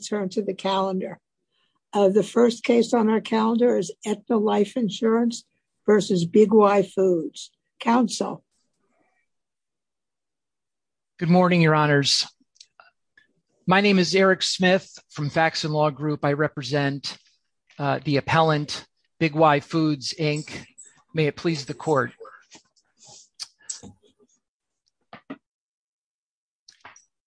Good morning, Your Honors. My name is Eric Smith from Facts & Law Group. I represent the appellant, Big Y Foods, Inc. May it please the Court.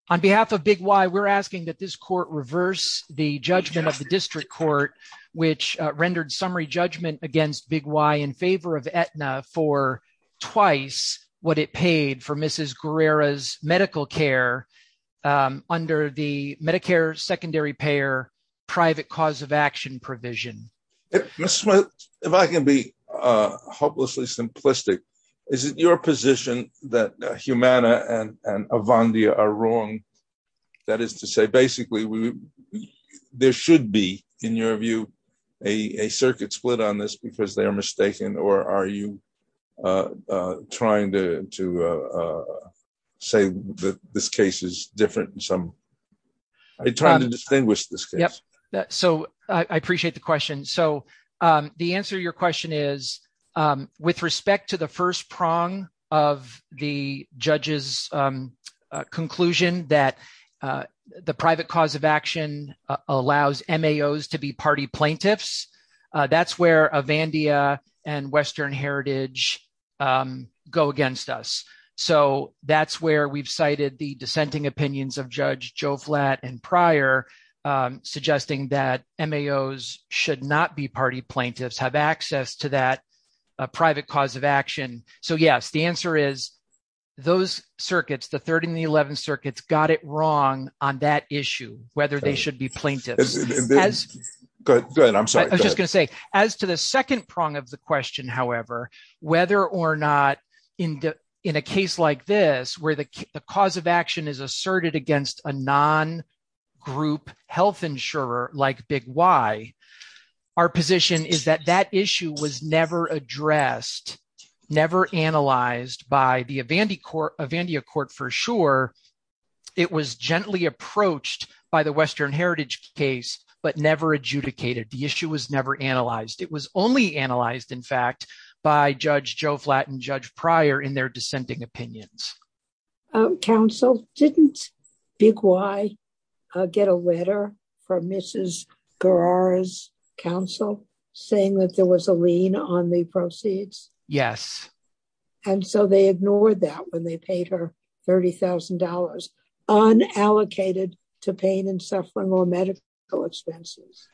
On behalf of Big Y, we're asking that this Court reverse the v. Big Y Foods, Inc. judgment of the District Court, which rendered summary judgment against Big Y in favor of Aetna for twice what it paid for Mrs. Guerrera's medical care under the Medicare Secondary Payer Private Cause of Action provision. Mr. Smith, if I can be hopelessly simplistic, is it your position that Humana and Avandia are wrong? That is to say, basically, we should be, in your view, a circuit split on this because they are mistaken? Or are you trying to say that this case is different? Are you trying to distinguish this case? I appreciate the question. The answer to your question is, with respect to the first prong of the judge's conclusion that the private cause of action allows MAOs to be party plaintiffs, that's where Avandia and Western Heritage go against us. That's where we've cited the dissenting opinions of Judge Joe Flatt and prior, suggesting that MAOs should not be party plaintiffs, have access to that private cause of action. Yes, the answer is, those circuits, the third and the eleventh circuits, got it wrong on that issue, whether they should be plaintiffs. Go ahead. I'm sorry. I was just going to say, as to the second prong of the question, however, whether or not, in a case like this, where the cause of action is asserted against a non-group health insurer like Big Y, our position is that that issue was never addressed, never analyzed by the Avandia Court for sure. It was gently approached by the Western Heritage case, but never adjudicated. The issue was never analyzed. It was only analyzed, in fact, by Judge Joe Flatt and Judge Prior in their dissenting opinions. Counsel, didn't Big Y get a letter from Mrs. Guerrero's counsel saying that there was a lien on the proceeds? Yes. And so they ignored that when they paid her $30,000, unallocated to pain and suffering or medical expenses?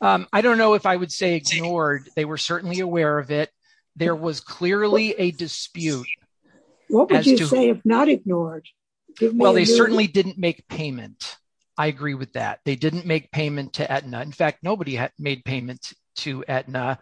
I don't know if I would say ignored. They were certainly aware of it. There was clearly a dispute. What would you say if not ignored? Well, they certainly didn't make payment. Nobody made payment to Aetna.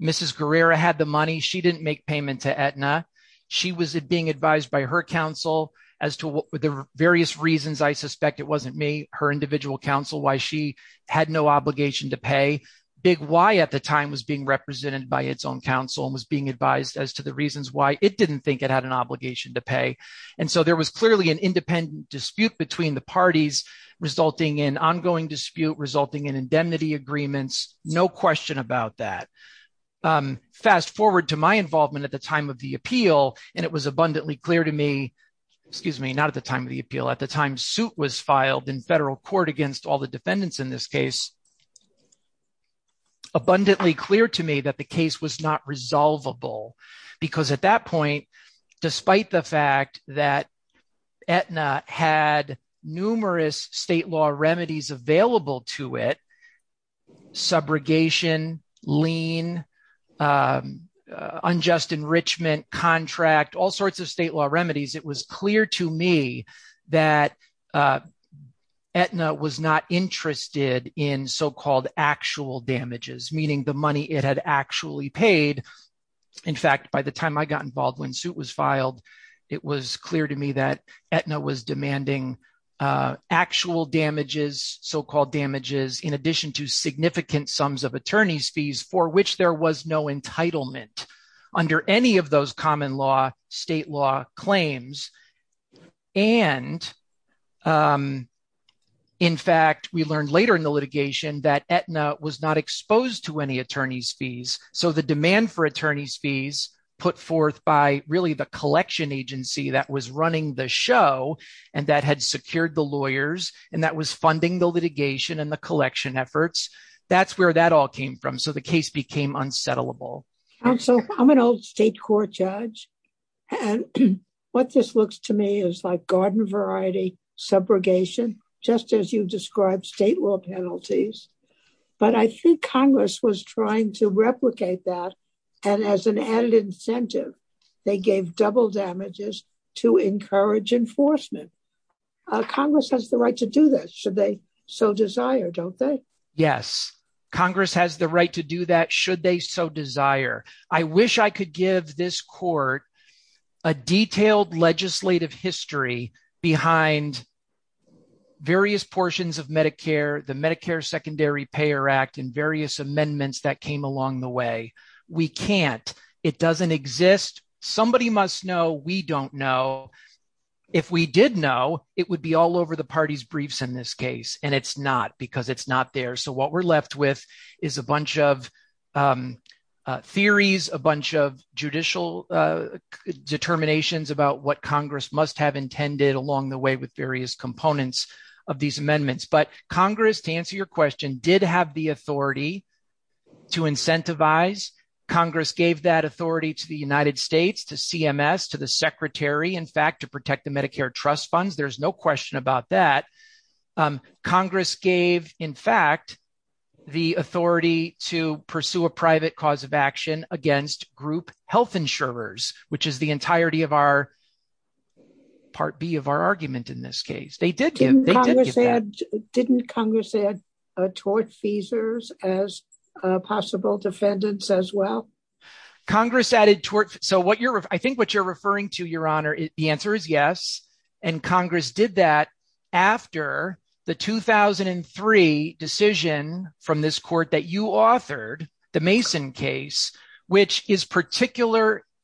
Mrs. Guerrero had the money. She didn't make payment to Aetna. She was being advised by her counsel as to the various reasons. I suspect it wasn't me, her individual counsel, why she had no obligation to pay. Big Y at the time was being represented by its own counsel and was being advised as to the reasons why it didn't think it had an obligation to pay. And so there was clearly an independent dispute between the parties resulting in ongoing dispute, resulting in indemnity agreements. No question about that. Fast forward to my involvement at the time of the appeal, and it was abundantly clear to me, excuse me, not at the time of the appeal, at the time suit was filed in federal court against all the defendants in this case, abundantly clear to me that the case was not resolvable because at that point, despite the fact that there was state law remedies available to it, subrogation, lien, unjust enrichment, contract, all sorts of state law remedies, it was clear to me that Aetna was not interested in so-called actual damages, meaning the money it had actually paid. In fact, by the time I got involved when suit was filed, it was clear to me that Aetna was demanding actual damages, so-called damages, in addition to significant sums of attorney's fees for which there was no entitlement under any of those common law, state law claims. And in fact, we learned later in the litigation that Aetna was not exposed to any attorney's fees. So the demand for attorney's fees put forth by really the collection agency that was running the show and that had secured the lawyers and that was funding the litigation and the collection efforts, that's where that all came from. So the case became unsettlable. I'm an old state court judge and what this looks to me is like garden variety, subrogation, just as you described state law penalties, but I think Congress was trying to replicate that and as an added incentive, they gave double damages to encourage enforcement. Congress has the right to do that, should they so desire, don't they? Yes. Congress has the right to do that, should they so desire. I wish I could give this court a detailed legislative history behind various portions of Medicare, the Medicare Secondary Payer Act and various amendments that came along the way. We can't. It doesn't exist. Somebody must know. We don't know. If we did know, it would be all over the party's briefs in this case and it's not because it's not there. So what we're left with is a bunch of theories, a bunch of judicial determinations about what Congress must have intended along the way with various components of these amendments. But Congress, to answer your question, did have the authority to incentivize. Congress gave that authority to the United States, to CMS, to the secretary, in fact, to protect the Medicare trust funds. There's no question about that. Congress gave, in fact, the authority to pursue a private cause of action against group health insurers, which is the entirety of our Part B of our argument in this case. They did give that. Didn't Congress add tort feasors as possible defendants as well? Congress added tort. So I think what you're referring to, Your Honor, the answer is yes. And Congress did that after the 2003 decision from this court that you authored, the Mason case, which is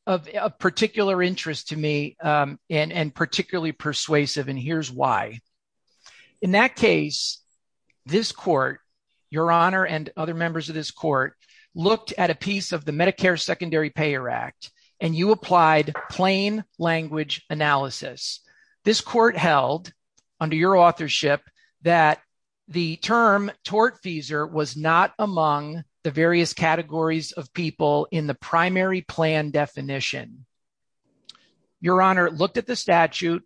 of particular interest to me and particularly persuasive. And here's why. In that case, this court, Your Honor and other members of this court, looked at a piece of the Medicare Secondary Payer Act, and you applied plain language analysis. This court held under your authorship that the term tort feasor was not among the various categories of people in the primary plan definition. Your Honor looked at the statute,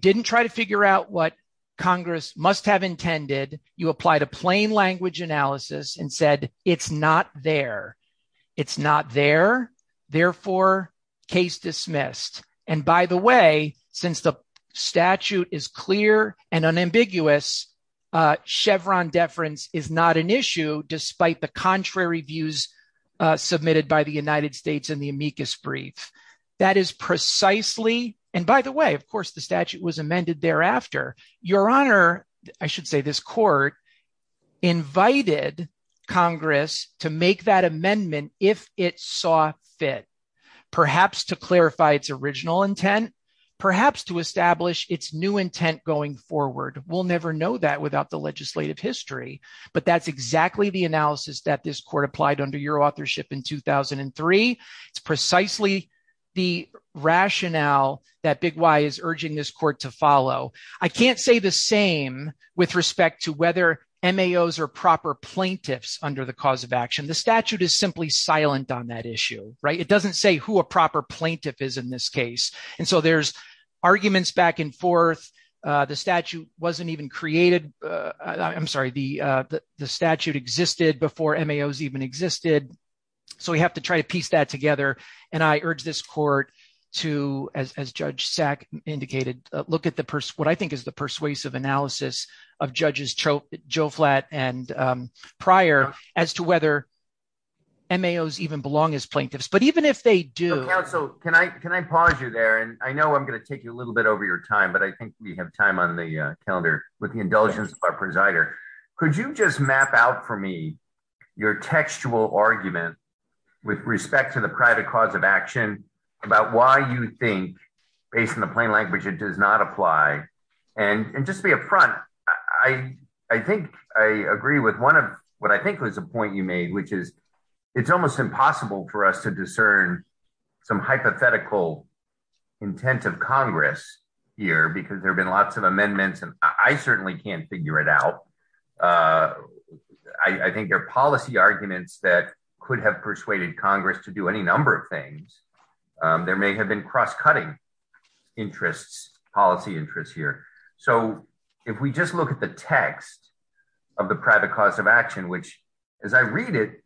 didn't try to figure out what Congress must have intended. You applied a plain language analysis and said it's not there. It's not there. Therefore, case dismissed. And by the way, since the statute is clear and unambiguous, Chevron deference is not an issue despite the contrary views submitted by the United States in the amicus brief. That is precisely and by the way, of course, the statute was amended thereafter. Your Honor, I should say this court invited Congress to make that amendment if it saw fit, perhaps to clarify its original intent, perhaps to establish its new intent going forward. We'll never know that without the evidence that this court applied under your authorship in 2003. It's precisely the rationale that Big Why is urging this court to follow. I can't say the same with respect to whether MAOs are proper plaintiffs under the cause of action. The statute is simply silent on that issue, right? It doesn't say who a proper plaintiff is in this case. And so there's arguments back and forth. The statute wasn't even created. I'm sorry, the statute existed before MAOs even existed. So we have to try to piece that together. And I urge this court to, as Judge Sack indicated, look at what I think is the persuasive analysis of judges Joe Flatt and Pryor as to whether MAOs even belong as plaintiffs. But even if they do... Can I pause you there? And I know I'm going to take you a little bit over your time, but I have a question for our presider. Could you just map out for me your textual argument with respect to the private cause of action about why you think, based on the plain language, it does not apply? And just to be upfront, I think I agree with one of what I think was a point you made, which is it's almost impossible for us to discern some hypothetical intent of Congress here because there have been lots of amendments, and I certainly can't figure it out. I think there are policy arguments that could have persuaded Congress to do any number of things. There may have been cross-cutting interests, policy interests here. So if we just look at the text of the private cause of action, which, as I read it,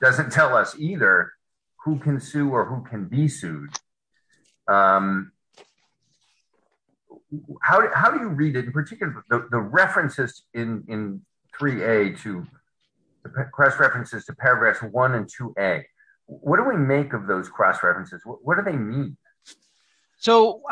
doesn't tell us either who can sue or who can be sued. How do you read it, in particular, the references in 3A to the cross-references to paragraphs 1 and 2A? What do we make of those cross-references? What do they mean? So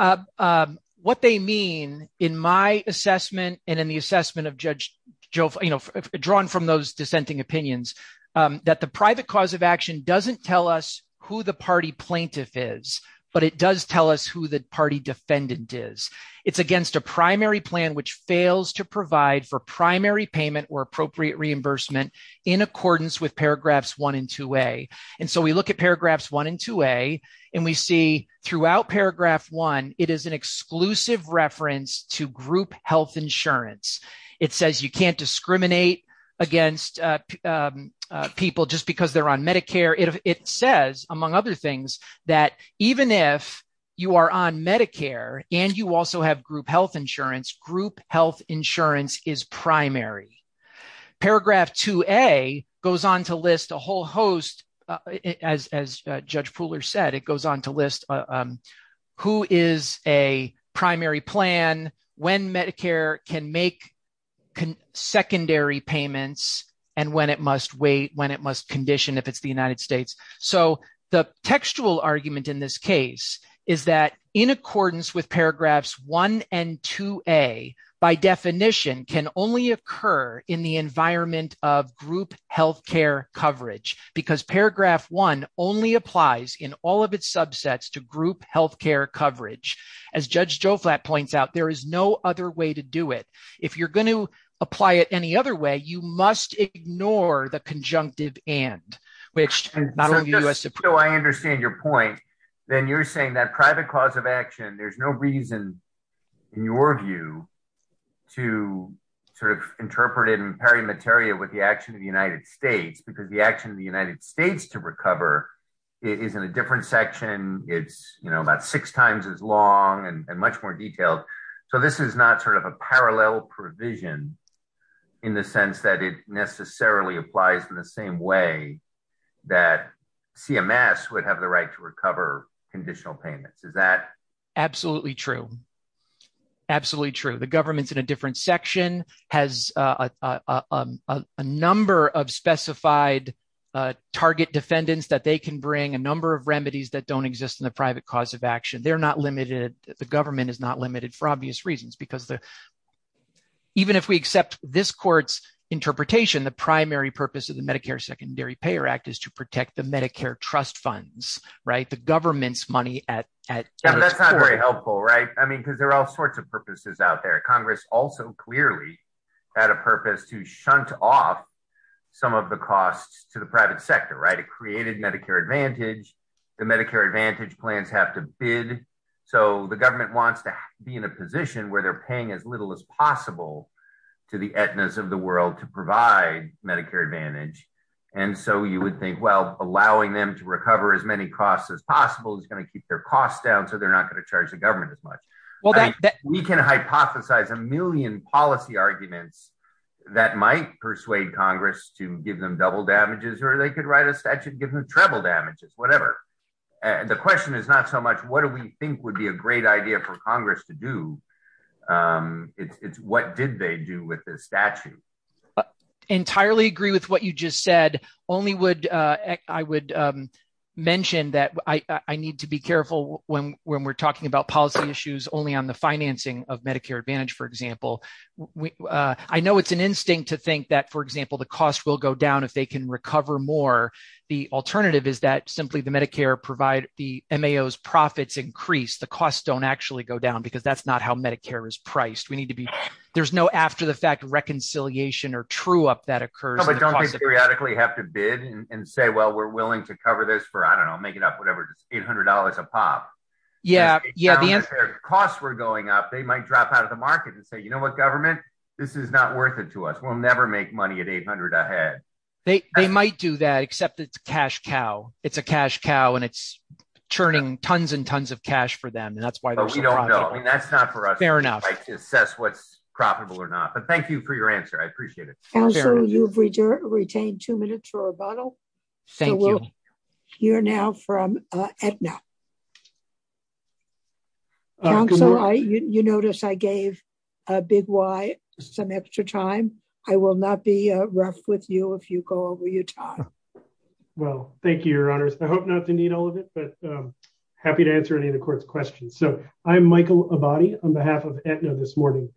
what they mean, in my assessment and in the assessment of Judge Joe, you know, drawn from those dissenting opinions, that the private cause of action doesn't tell us who the party plaintiff is, but it does tell us who the party defendant is. It's against a primary plan which fails to provide for primary payment or appropriate reimbursement in accordance with paragraphs 1 and 2A. And so we look at paragraphs 1 and 2A, and we see throughout paragraph 1, it is an exclusive reference to group health insurance. It says you can't discriminate against people just because they're on Medicare. It says, among other things, that even if you are on Medicare and you also have group health insurance, group health insurance is primary. Paragraph 2A goes on to list a whole host, as Judge Pooler said, it goes on to list who is a primary plan, when Medicare can make secondary payments, and when it must wait, when it must condition if it's the United States. So the textual argument in this case is that in accordance with paragraphs 1 and 2A, by definition, can only occur in the environment of group health care coverage, because paragraph 1 only applies in all of its subsets to group health care coverage. As Judge Joe Flatt points out, there is no other way to do it. If you're going to do it, you have to do it before the conjunctive and, which not only the U.S. Supreme Court So I understand your point. Then you're saying that private cause of action, there's no reason, in your view, to sort of interpret it in pari materia with the action of the United States, because the action of the United States to recover is in a different section. It's, you know, about six times as long and much more detailed. So this is not sort of a parallel provision in the sense that it necessarily applies in the same way that CMS would have the right to recover conditional payments. Is that Absolutely true. Absolutely true. The government's in a different section, has a number of specified target defendants that they can bring, a number of remedies that don't exist in the private cause of action. They're not in the private cause of action. And so the primary purpose of the Medicare Secondary Payer Act is to protect the Medicare trust funds, right? The government's money at That's not very helpful, right? I mean, because there are all sorts of purposes out there. Congress also clearly had a purpose to shunt off some of the costs to the private sector, right? It created Medicare Advantage. The Medicare Advantage plans have to bid. So the government wants to be in a position where they're paying as little as possible to the ethnos of the world to provide Medicare Advantage. And so you would think, well, allowing them to recover as many costs as possible is going to keep their costs down. So they're not going to charge the government as much. Well, we can hypothesize a million policy arguments that might persuade Congress to give them double damages or they could write a statute, give them treble damages, whatever. The question is not so much what do we think would be a great idea for Congress to do? It's what did they do with the statute? Entirely agree with what you just said. Only would I would mention that I need to be careful when we're talking about policy issues only on the financing of Medicare Advantage, for example. I know it's an instinct to think that, for example, the cost will go down if they can recover more. The alternative is that simply the Medicare provide the M.A.O.'s profits increase. The costs don't actually go down because that's not how Medicare is priced. We need to be there's no after the fact reconciliation or true up that occurs. But don't we periodically have to bid and say, well, we're willing to cover this for, I don't know, make it up whatever, $800 a pop. Yeah. The costs were going up. They might drop out of the market and say, you know what, government, this is not worth it to us. We'll never make money at 800 ahead. They might do that, except it's cash cow. It's a cash cow and it's churning tons and tons of cash for them. And that's why we don't know. And that's not for us. Fair enough. Like to assess what's profitable or not. But thank you for your answer. I appreciate it. So you've retained two minutes for rebuttal. Thank you. You're now from Aetna. So you notice I gave a little extra time. I will not be rough with you if you go over your time. Well, thank you, Your Honors. I hope not to need all of it, but happy to answer any of the court's questions. So I'm Michael Abadi on behalf of Aetna this morning.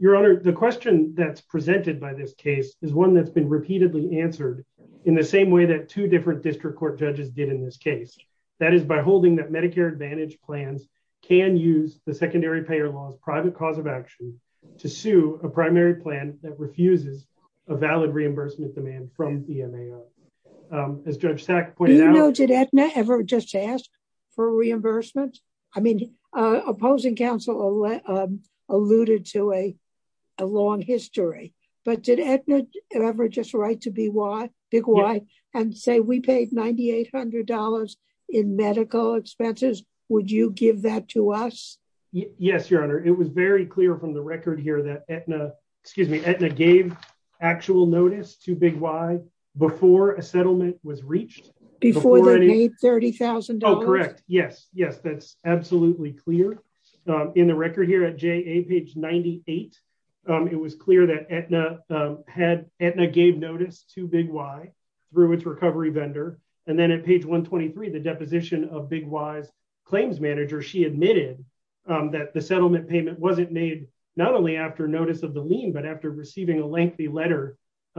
Your Honor, the question that's presented by this case is one that's been repeatedly answered in the same way that two different district court judges did in this case. That is by holding that Medicare Advantage plans can use the secondary payer laws private cause of action to sue a primary plan that refuses a valid reimbursement demand from EMAO. As Judge Sack pointed out. Did Aetna ever just ask for reimbursement? I mean, opposing counsel alluded to a long history. But did Aetna ever just write to BY and say we paid $9,800 in medical expenses? Would you give that to us? Yes, Your Honor. It was very clear from the record here that Aetna gave actual notice to BY before a settlement was reached. Before they made $30,000? Oh, correct. Yes. Yes, that's absolutely clear. In the record here at JA, page 98, it was clear that Aetna gave notice to BY through its recovery vendor. And then at page 123, the deposition of BY's claims manager, she admitted that the settlement payment wasn't made not only after notice of the lien, but after receiving a lengthy letter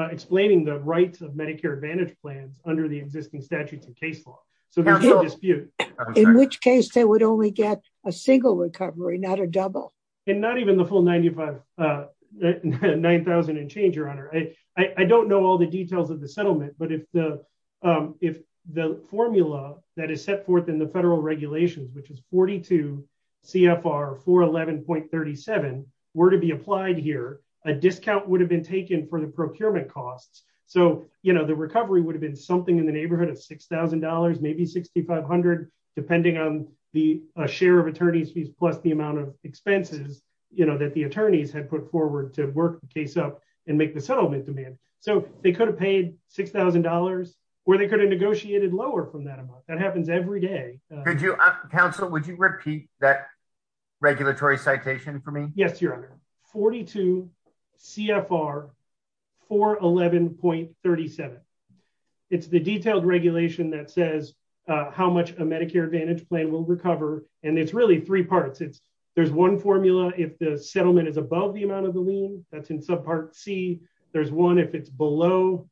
explaining the rights of Medicare Advantage plans under the existing statutes and case law. So there's no dispute. In which case they would only get a single recovery, not a double. And not even the full $9,000 in change, Your Honor. I don't know all the details of the settlement, but if the formula that is set forth in the federal regulations, which is 42 CFR 411.37, were to be applied here, a discount would have been taken for the procurement costs. So the recovery would have been something in the neighborhood of $6,000, maybe $6,500, depending on the share of attorneys fees plus the amount of expenses that the attorneys had put forward to work the case up and make the settlement demand. So they could have paid $6,000 or they could have negotiated lower from that amount. That happens every day. Counsel, would you repeat that regulatory citation for me? Yes, Your Honor. 42 CFR 411.37. It's the detailed regulation that says how much a Medicare Advantage plan will recover. And it's really three parts. It's there's one formula if the settlement is above the amount of the lien that's in subpart C. There's one if it's below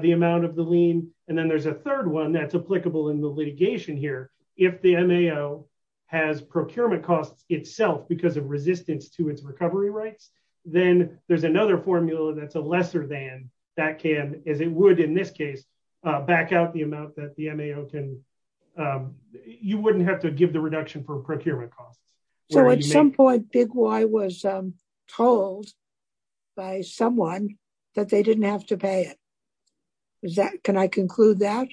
the amount of the lien. And then there's a third one that's applicable in the litigation here. If the MAO has procurement costs itself because of resistance to its recovery rights, then there's another formula that's a lesser than that can as it would in this case back out the amount that the MAO can. You wouldn't have to give the reduction for procurement costs. So at some point, Big Why was told by someone that they didn't have to pay it. Can I conclude that?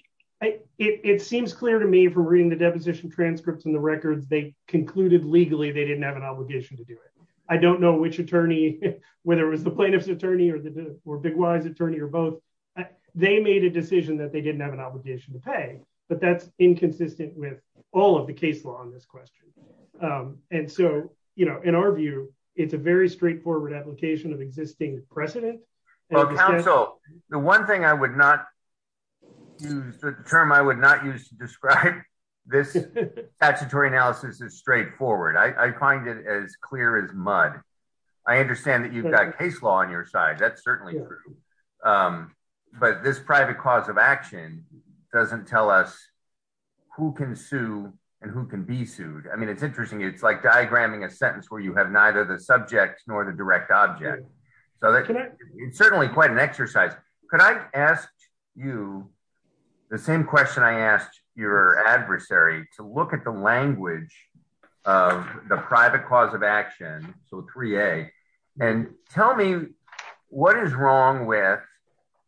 It seems clear to me from reading the deposition transcripts and the records, they concluded legally they didn't have an obligation to do it. I don't know which attorney, whether it was the plaintiff's attorney or Big Why's attorney or both. They made a decision that they didn't have an obligation to pay. But that's inconsistent with all of the case law on this question. And so, you know, in our view, it's a very straightforward application of existing precedent. So the one thing I would not use the term I would not use to describe this statutory analysis is straightforward. I find it as clear as mud. I understand that you've got case law on your side. That's certainly true. But this private cause of action doesn't tell us who can sue and who can be sued. I mean, it's interesting. It's like diagramming a sentence where you have neither the subject nor the direct object. So it's certainly quite an exercise. Could I ask you the same question I asked your adversary to look at the language of the private cause of action, so 3A, and tell me what is wrong with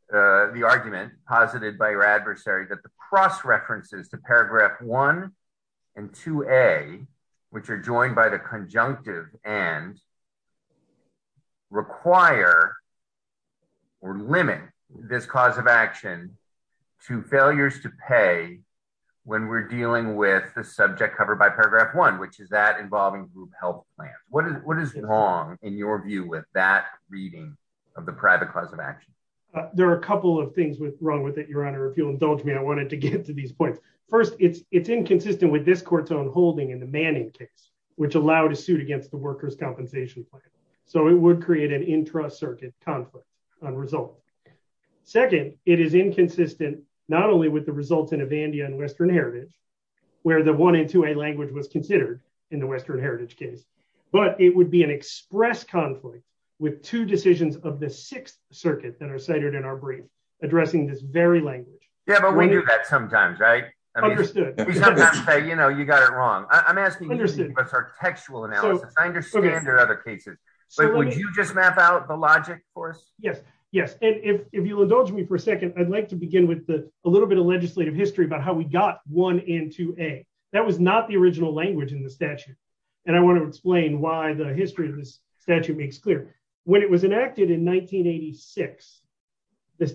the argument posited by your adversary that the cross references to paragraph one and 2A, which are joined by the conjunctive and require or limit this cause of action to failures to pay when we're dealing with the subject covered by paragraph one, which is that involving group health plan. What is what is wrong in your view with that reading of the private cause of action? There are a couple of things wrong with it, Your Honor. If you'll indulge me, I wanted to get to these points. First, it's inconsistent with this court's own holding in the Manning case, which allowed a suit against the workers' compensation plan. So it would create an intra-circuit conflict on result. Second, it is inconsistent not only with the results in Avandia and Western Heritage, where the one and 2A language was considered in the Western Heritage case, but it would be an express conflict with two decisions of the Sixth Circuit that are cited in our brief addressing this very language. Yeah, but we knew that sometimes, right? We sometimes say, you know, you got it wrong. I'm asking you to give us our textual analysis. I understand there are other cases, but would you just map out the logic for us? Yes. Yes. And if you'll indulge me for a second, I'd like to begin with a little bit of legislative history about how we got one and 2A. That was not the original language in the statute. And I want to explain why the history of this statute makes clear. When it was enacted in 1986,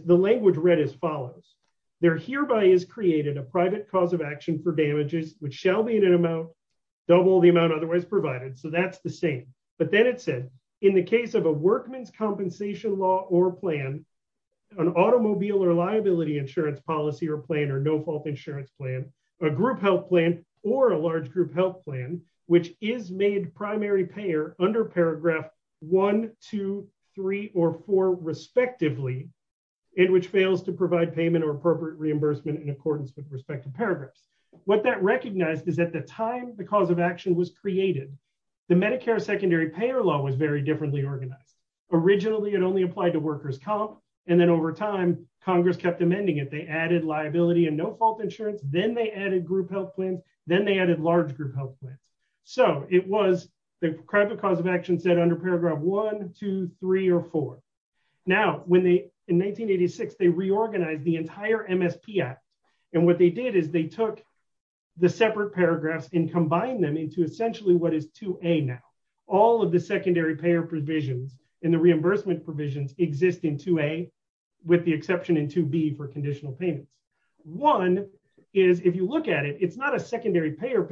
the language read as follows. There hereby is created a private cause of action for damages, which shall be in an amount double the amount otherwise provided. So that's the same. But then it said, in the case of a workman's compensation law or plan, an automobile or liability insurance policy or plan or no-fault insurance plan, a group health plan or a large group health plan, which is made primary payer under paragraph one, two, three or four, respectively, in which fails to provide payment or appropriate reimbursement in accordance with respective paragraphs. What that recognized is at the time the cause of action was created, the Medicare secondary payer law was very differently organized. Originally, it only applied to workers' comp. And then over time, Congress kept amending it. They added liability and no-fault insurance. Then they added group health plans. Then they added large group health plans. So it was the private cause of action set under paragraph one, two, three or four. Now, in 1986, they reorganized the entire MSP Act. And what they did is they took the separate paragraphs and combined them into essentially what is 2A now. All of the secondary payer provisions and the reimbursement provisions exist in 2A, with the exception in 2B for conditional payments. One is, if you look at it, it's not a secondary payer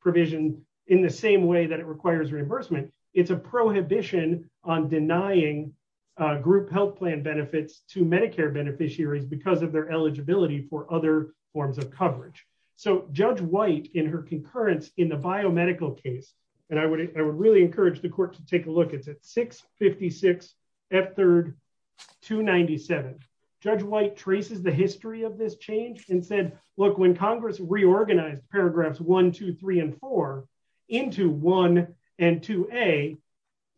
provision in the same way that it requires reimbursement. It's a prohibition on denying group health plan benefits to Medicare beneficiaries because of their eligibility for other forms of coverage. So Judge White, in her concurrence in the biomedical case, and I would really encourage the court to take a look, it's at 656 F3, 297. Judge White traces the history of this change and said, look, when Congress reorganized paragraphs one, two, three and four into one and 2A,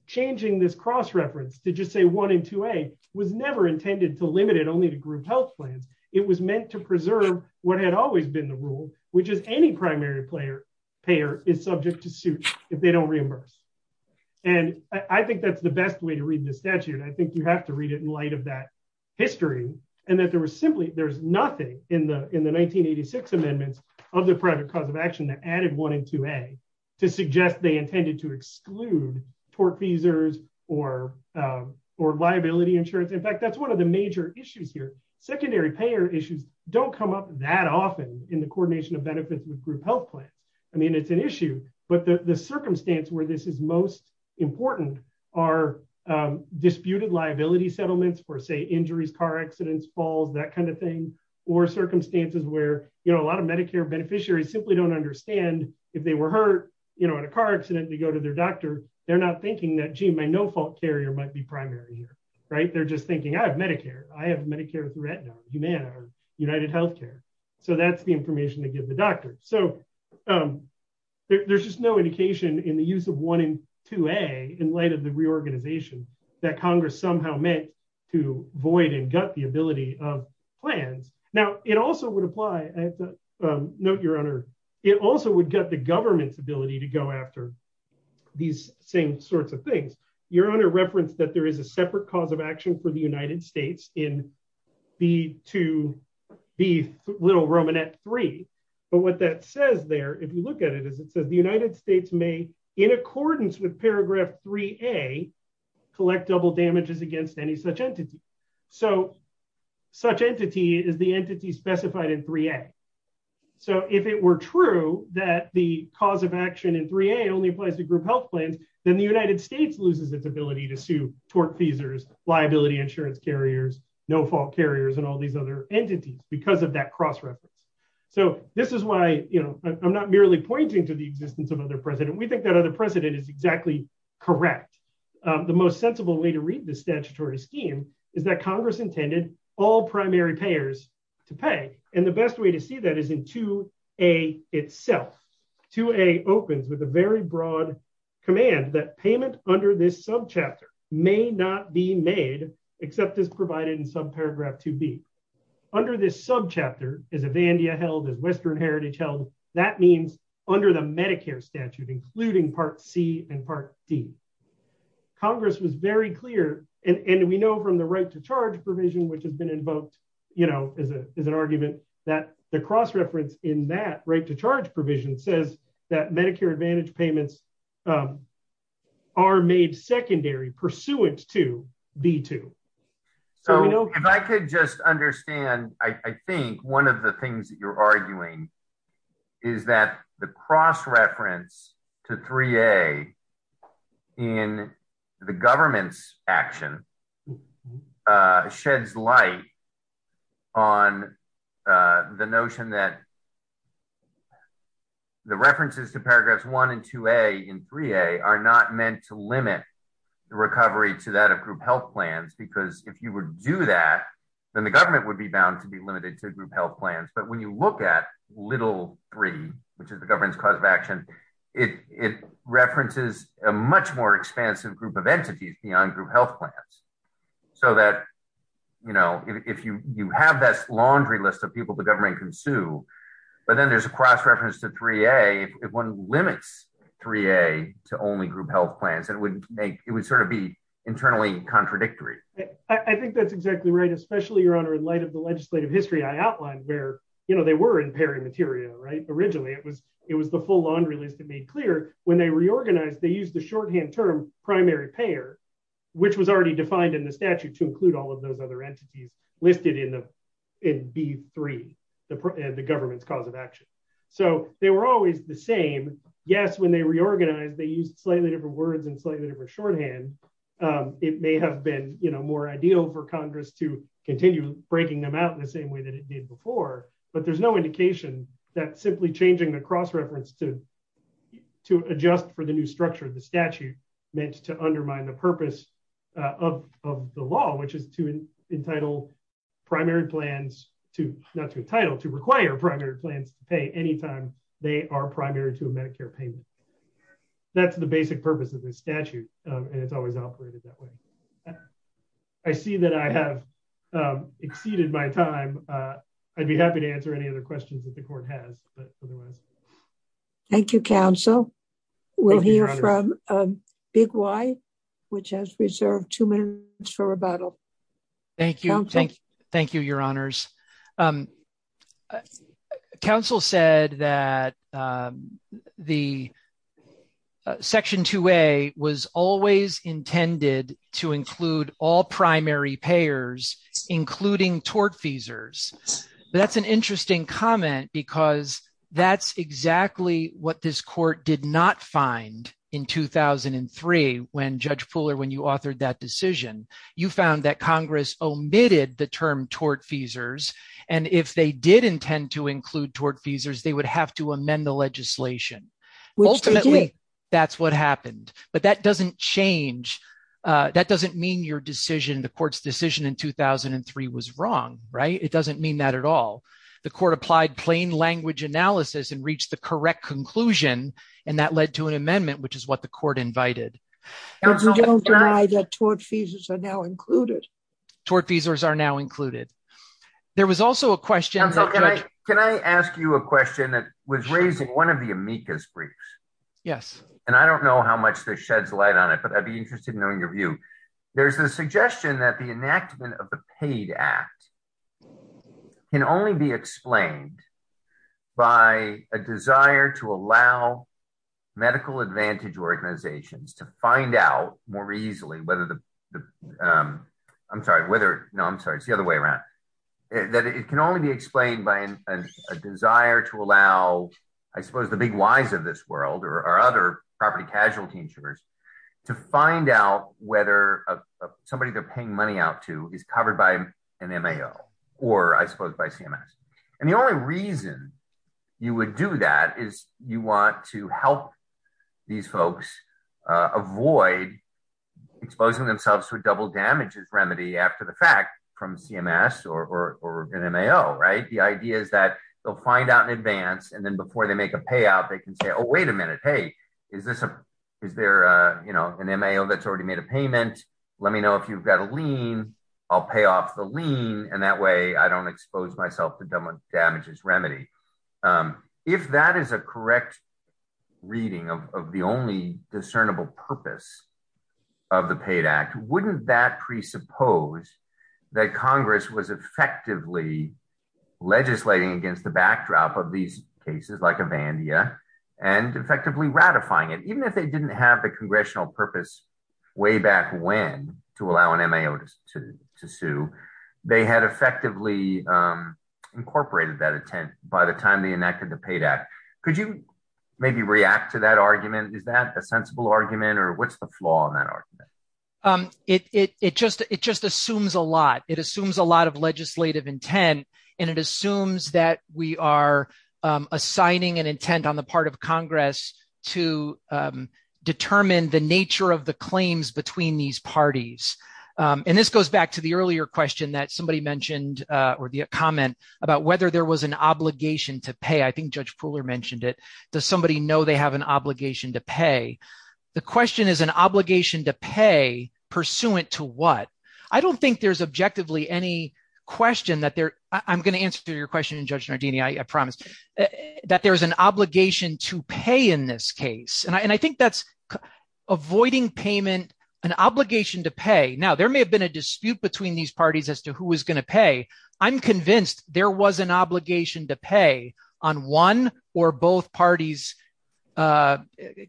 changing this cross-reference to just say one and 2A was never intended to limit it only to group health plans. It was meant to preserve what had always been the rule, which is any primary payer is subject to suit if they don't reimburse. And I think that's the best way to read the statute. I think you have to read it in light of that history and that there was simply, there's nothing in the 1986 amendments of the private cause of action that added one and 2A to suggest they intended to exclude tort feasors or liability insurance. In fact, that's one of the major issues here. Secondary payer issues don't come up that often in the coordination of benefits with group health plans. I mean, it's an issue, but the circumstance where this is most important are disputed liability settlements for, say, injuries, car accidents, falls, that kind of thing, or circumstances where a lot of Medicare beneficiaries simply don't understand if they were hurt in a car accident, they go to their doctor, they're not thinking that, gee, my no-fault carrier might be primary here. They're just thinking, I have Medicare. I have Medicare with Retinol, Humana or UnitedHealthcare. So that's the information to give the doctor. There's just no indication in the use of 1 and 2A in light of the reorganization that Congress somehow meant to void and gut the ability of plans. Now, it also would apply, note, Your Honor, it also would gut the government's ability to go after these same sorts of things. Your Honor referenced that there is a separate cause of action for the United States in paragraph 3A, and that is the United States may, in accordance with paragraph 3A, collect double damages against any such entity. So such entity is the entity specified in 3A. So if it were true that the cause of action in 3A only applies to group health plans, then the United States loses its ability to sue tortfeasors, liability insurance carriers, no-fault carriers and all these other entities because of that cross-reference. So this is why, you know, I'm not merely pointing to the existence of other precedent. We think that other precedent is exactly correct. The most sensible way to read the statutory scheme is that Congress intended all primary payers to pay, and the best way to see that is in 2A itself. 2A opens with a very broad command that payment under this subchapter may not be made except as provided in subparagraph 2B. Under this subchapter, as Avandia held, as Western Heritage held, that means under the Medicare statute, including Part C and Part D. Congress was very clear and we know from the right to charge provision which has been invoked, you know, as an argument, that the cross-reference in that right to charge provision says that Medicare Advantage payments are made secondary pursuant to B2. So if I could just understand, I think one of the things that you're arguing is that the cross- reference to 3A in the government's action sheds light on the notion that the references to paragraphs 1 and 2A in 3A are not meant to limit the recovery to that of group health plans, because if you would do that, then the government would be bound to be limited to group health plans. But when you look at little 3, which is the government's cause of action, it references a much more expansive group of entities beyond group health plans. So that, you know, if you have that laundry list of people the government can sue, but then there's a cross-reference to 3A, if one limits 3A to only group health plans, it would sort of be internally contradictory. I think that's exactly right, especially, Your Honor, in light of the legislative history I outlined where, you know, they were in pairing material, right? Originally, it was the full laundry list it made clear. When they reorganized, they used the shorthand term primary payer, which was already defined in the statute to include all of those other entities listed in B3, the government's cause of action. So they were always the same. Yes, when they reorganized, they used slightly different words and slightly different shorthand. It may have been, you know, more ideal for Congress to continue breaking them out in the same way that it did before, but there's no indication that simply changing the cross-reference to adjust for the new structure of the statute meant to undermine the purpose of the law, which is to entitle primary plans to not to entitle, to require primary plans to pay any time they are primary to a Medicare payment. That's the basic purpose of the statute, and it's always operated that way. I see that I have exceeded my time. I'd be happy to answer any other questions that the court has. Thank you, counsel. We'll hear from Big Y, which has reserved two minutes for rebuttal. Thank you. Thank you. Thank you, Your Honors. Counsel said that the Section 2A was always intended to include all primary payers, including tortfeasors. That's an interesting comment because that's exactly what this court did not find in 2003 when Judge Pooler, when you authored that decision, you found that Congress omitted the term tortfeasors, and if they did intend to include tortfeasors, they would have to amend the legislation. Ultimately, that's what happened. But that doesn't change. That doesn't mean your decision, the court's decision in 2003 was wrong. It doesn't mean that at all. The court applied plain language analysis and reached the correct conclusion, and that led to an amendment, which is what the court invited. But you don't deny that tortfeasors are now included. Tortfeasors are now included. There was also a question... Counsel, can I ask you a question that was raised in one of the amicus briefs? Yes. And I don't know how much this sheds light on it, but I'd be interested in knowing your view. There's a suggestion that the enactment of the PAID Act can only be explained by a desire to allow medical advantage organizations to find out more easily whether the... I'm sorry. No, I'm sorry. It's the other way around. That it can only be explained by a desire to allow, I suppose, the big whys of this world or other property casualty insurers to find out whether somebody they're paying money out to is covered by an MAO or, I suppose, by CMS. And the only reason you would do that is you want to help these folks avoid exposing themselves to a double damages remedy after the fact from CMS or an MAO, right? The idea is that they'll find out in advance, and then before they make a payout, they can say, oh, wait a minute. Hey, is this a... Is there an MAO that's already made a payment? Let me know if you've got a lien. I'll pay off the lien, and that way I don't expose myself to double damages remedy. If that is a correct reading of the only discernible purpose of the PAID Act, wouldn't that presuppose that Congress was effectively legislating against the backdrop of these cases like Avandia and effectively ratifying it, even if they didn't have the congressional purpose way back when to allow an MAO to sue? They had effectively incorporated that intent by the time they enacted the PAID Act. Could you maybe react to that argument? Is that a sensible argument, or what's the flaw in that argument? It just assumes a lot. It assumes a lot of legislative intent, and it assumes that we are assigning an intent on the part of Congress to determine the nature of the claims between these parties. And this goes back to the earlier question that somebody mentioned, or the comment about whether there was an obligation to pay. I think Judge Pooler mentioned it. Does somebody know they have an obligation to pay? The question is an obligation to pay pursuant to what? I don't think there's objectively any question that there... I'm going to answer your question, Judge Nardini, I promise, that there's an obligation to pay in this case. And I think that's avoiding payment, an obligation to pay. Now, there may have been a dispute between these parties as to who was going to pay. I'm convinced there was an obligation to pay on one or both parties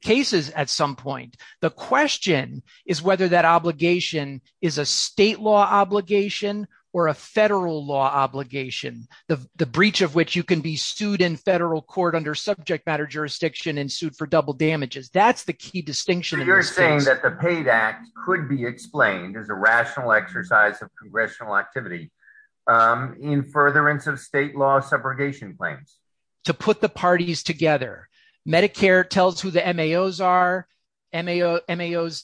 cases at some point. The question is whether that obligation is a state law obligation or a federal law obligation, the breach of which you can be sued in federal court under subject matter jurisdiction and sued for double damages. That's the key distinction. You're saying that the PAID Act could be explained as a rational exercise of congressional activity in furtherance of state law subrogation claims. To put the parties together. Medicare tells who the MAOs are. MAOs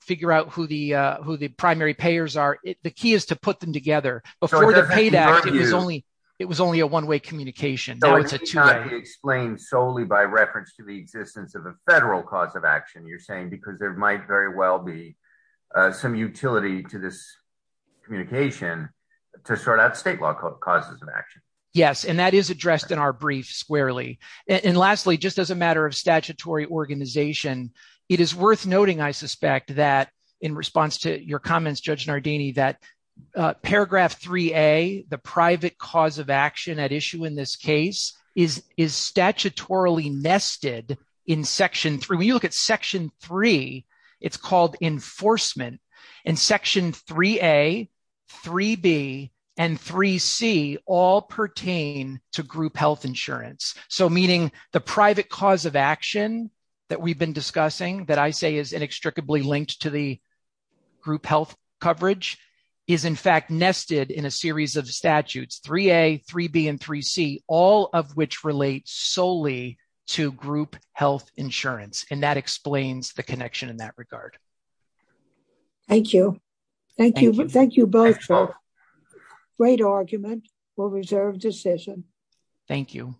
figure out who the primary payers are. The key is to put them together. Before the PAID Act, it was only a one-way communication. It's not explained solely by reference to the existence of a federal cause of action, you're saying, because there might very well be some utility to this communication to sort out state law causes of action. Yes, and that is addressed in our brief squarely. And lastly, just as a matter of statutory organization, it is worth noting, I suspect, that in response to your comments, Judge Nardini, that paragraph 3A, the private cause of action at issue in this case, is statutorily nested in Section 3. When you look at Section 3, it's called enforcement. And Section 3A, 3B, and 3C all pertain to group health insurance. So meaning the private cause of action that we've been discussing, that I say is inextricably linked to the group health coverage, is in fact nested in a series of statutes, 3A, 3B, and 3C, all of which relate solely to group health insurance. And that explains the connection in that regard. Thank you. Thank you. Thank you both for great argument for reserved decision. Thank you.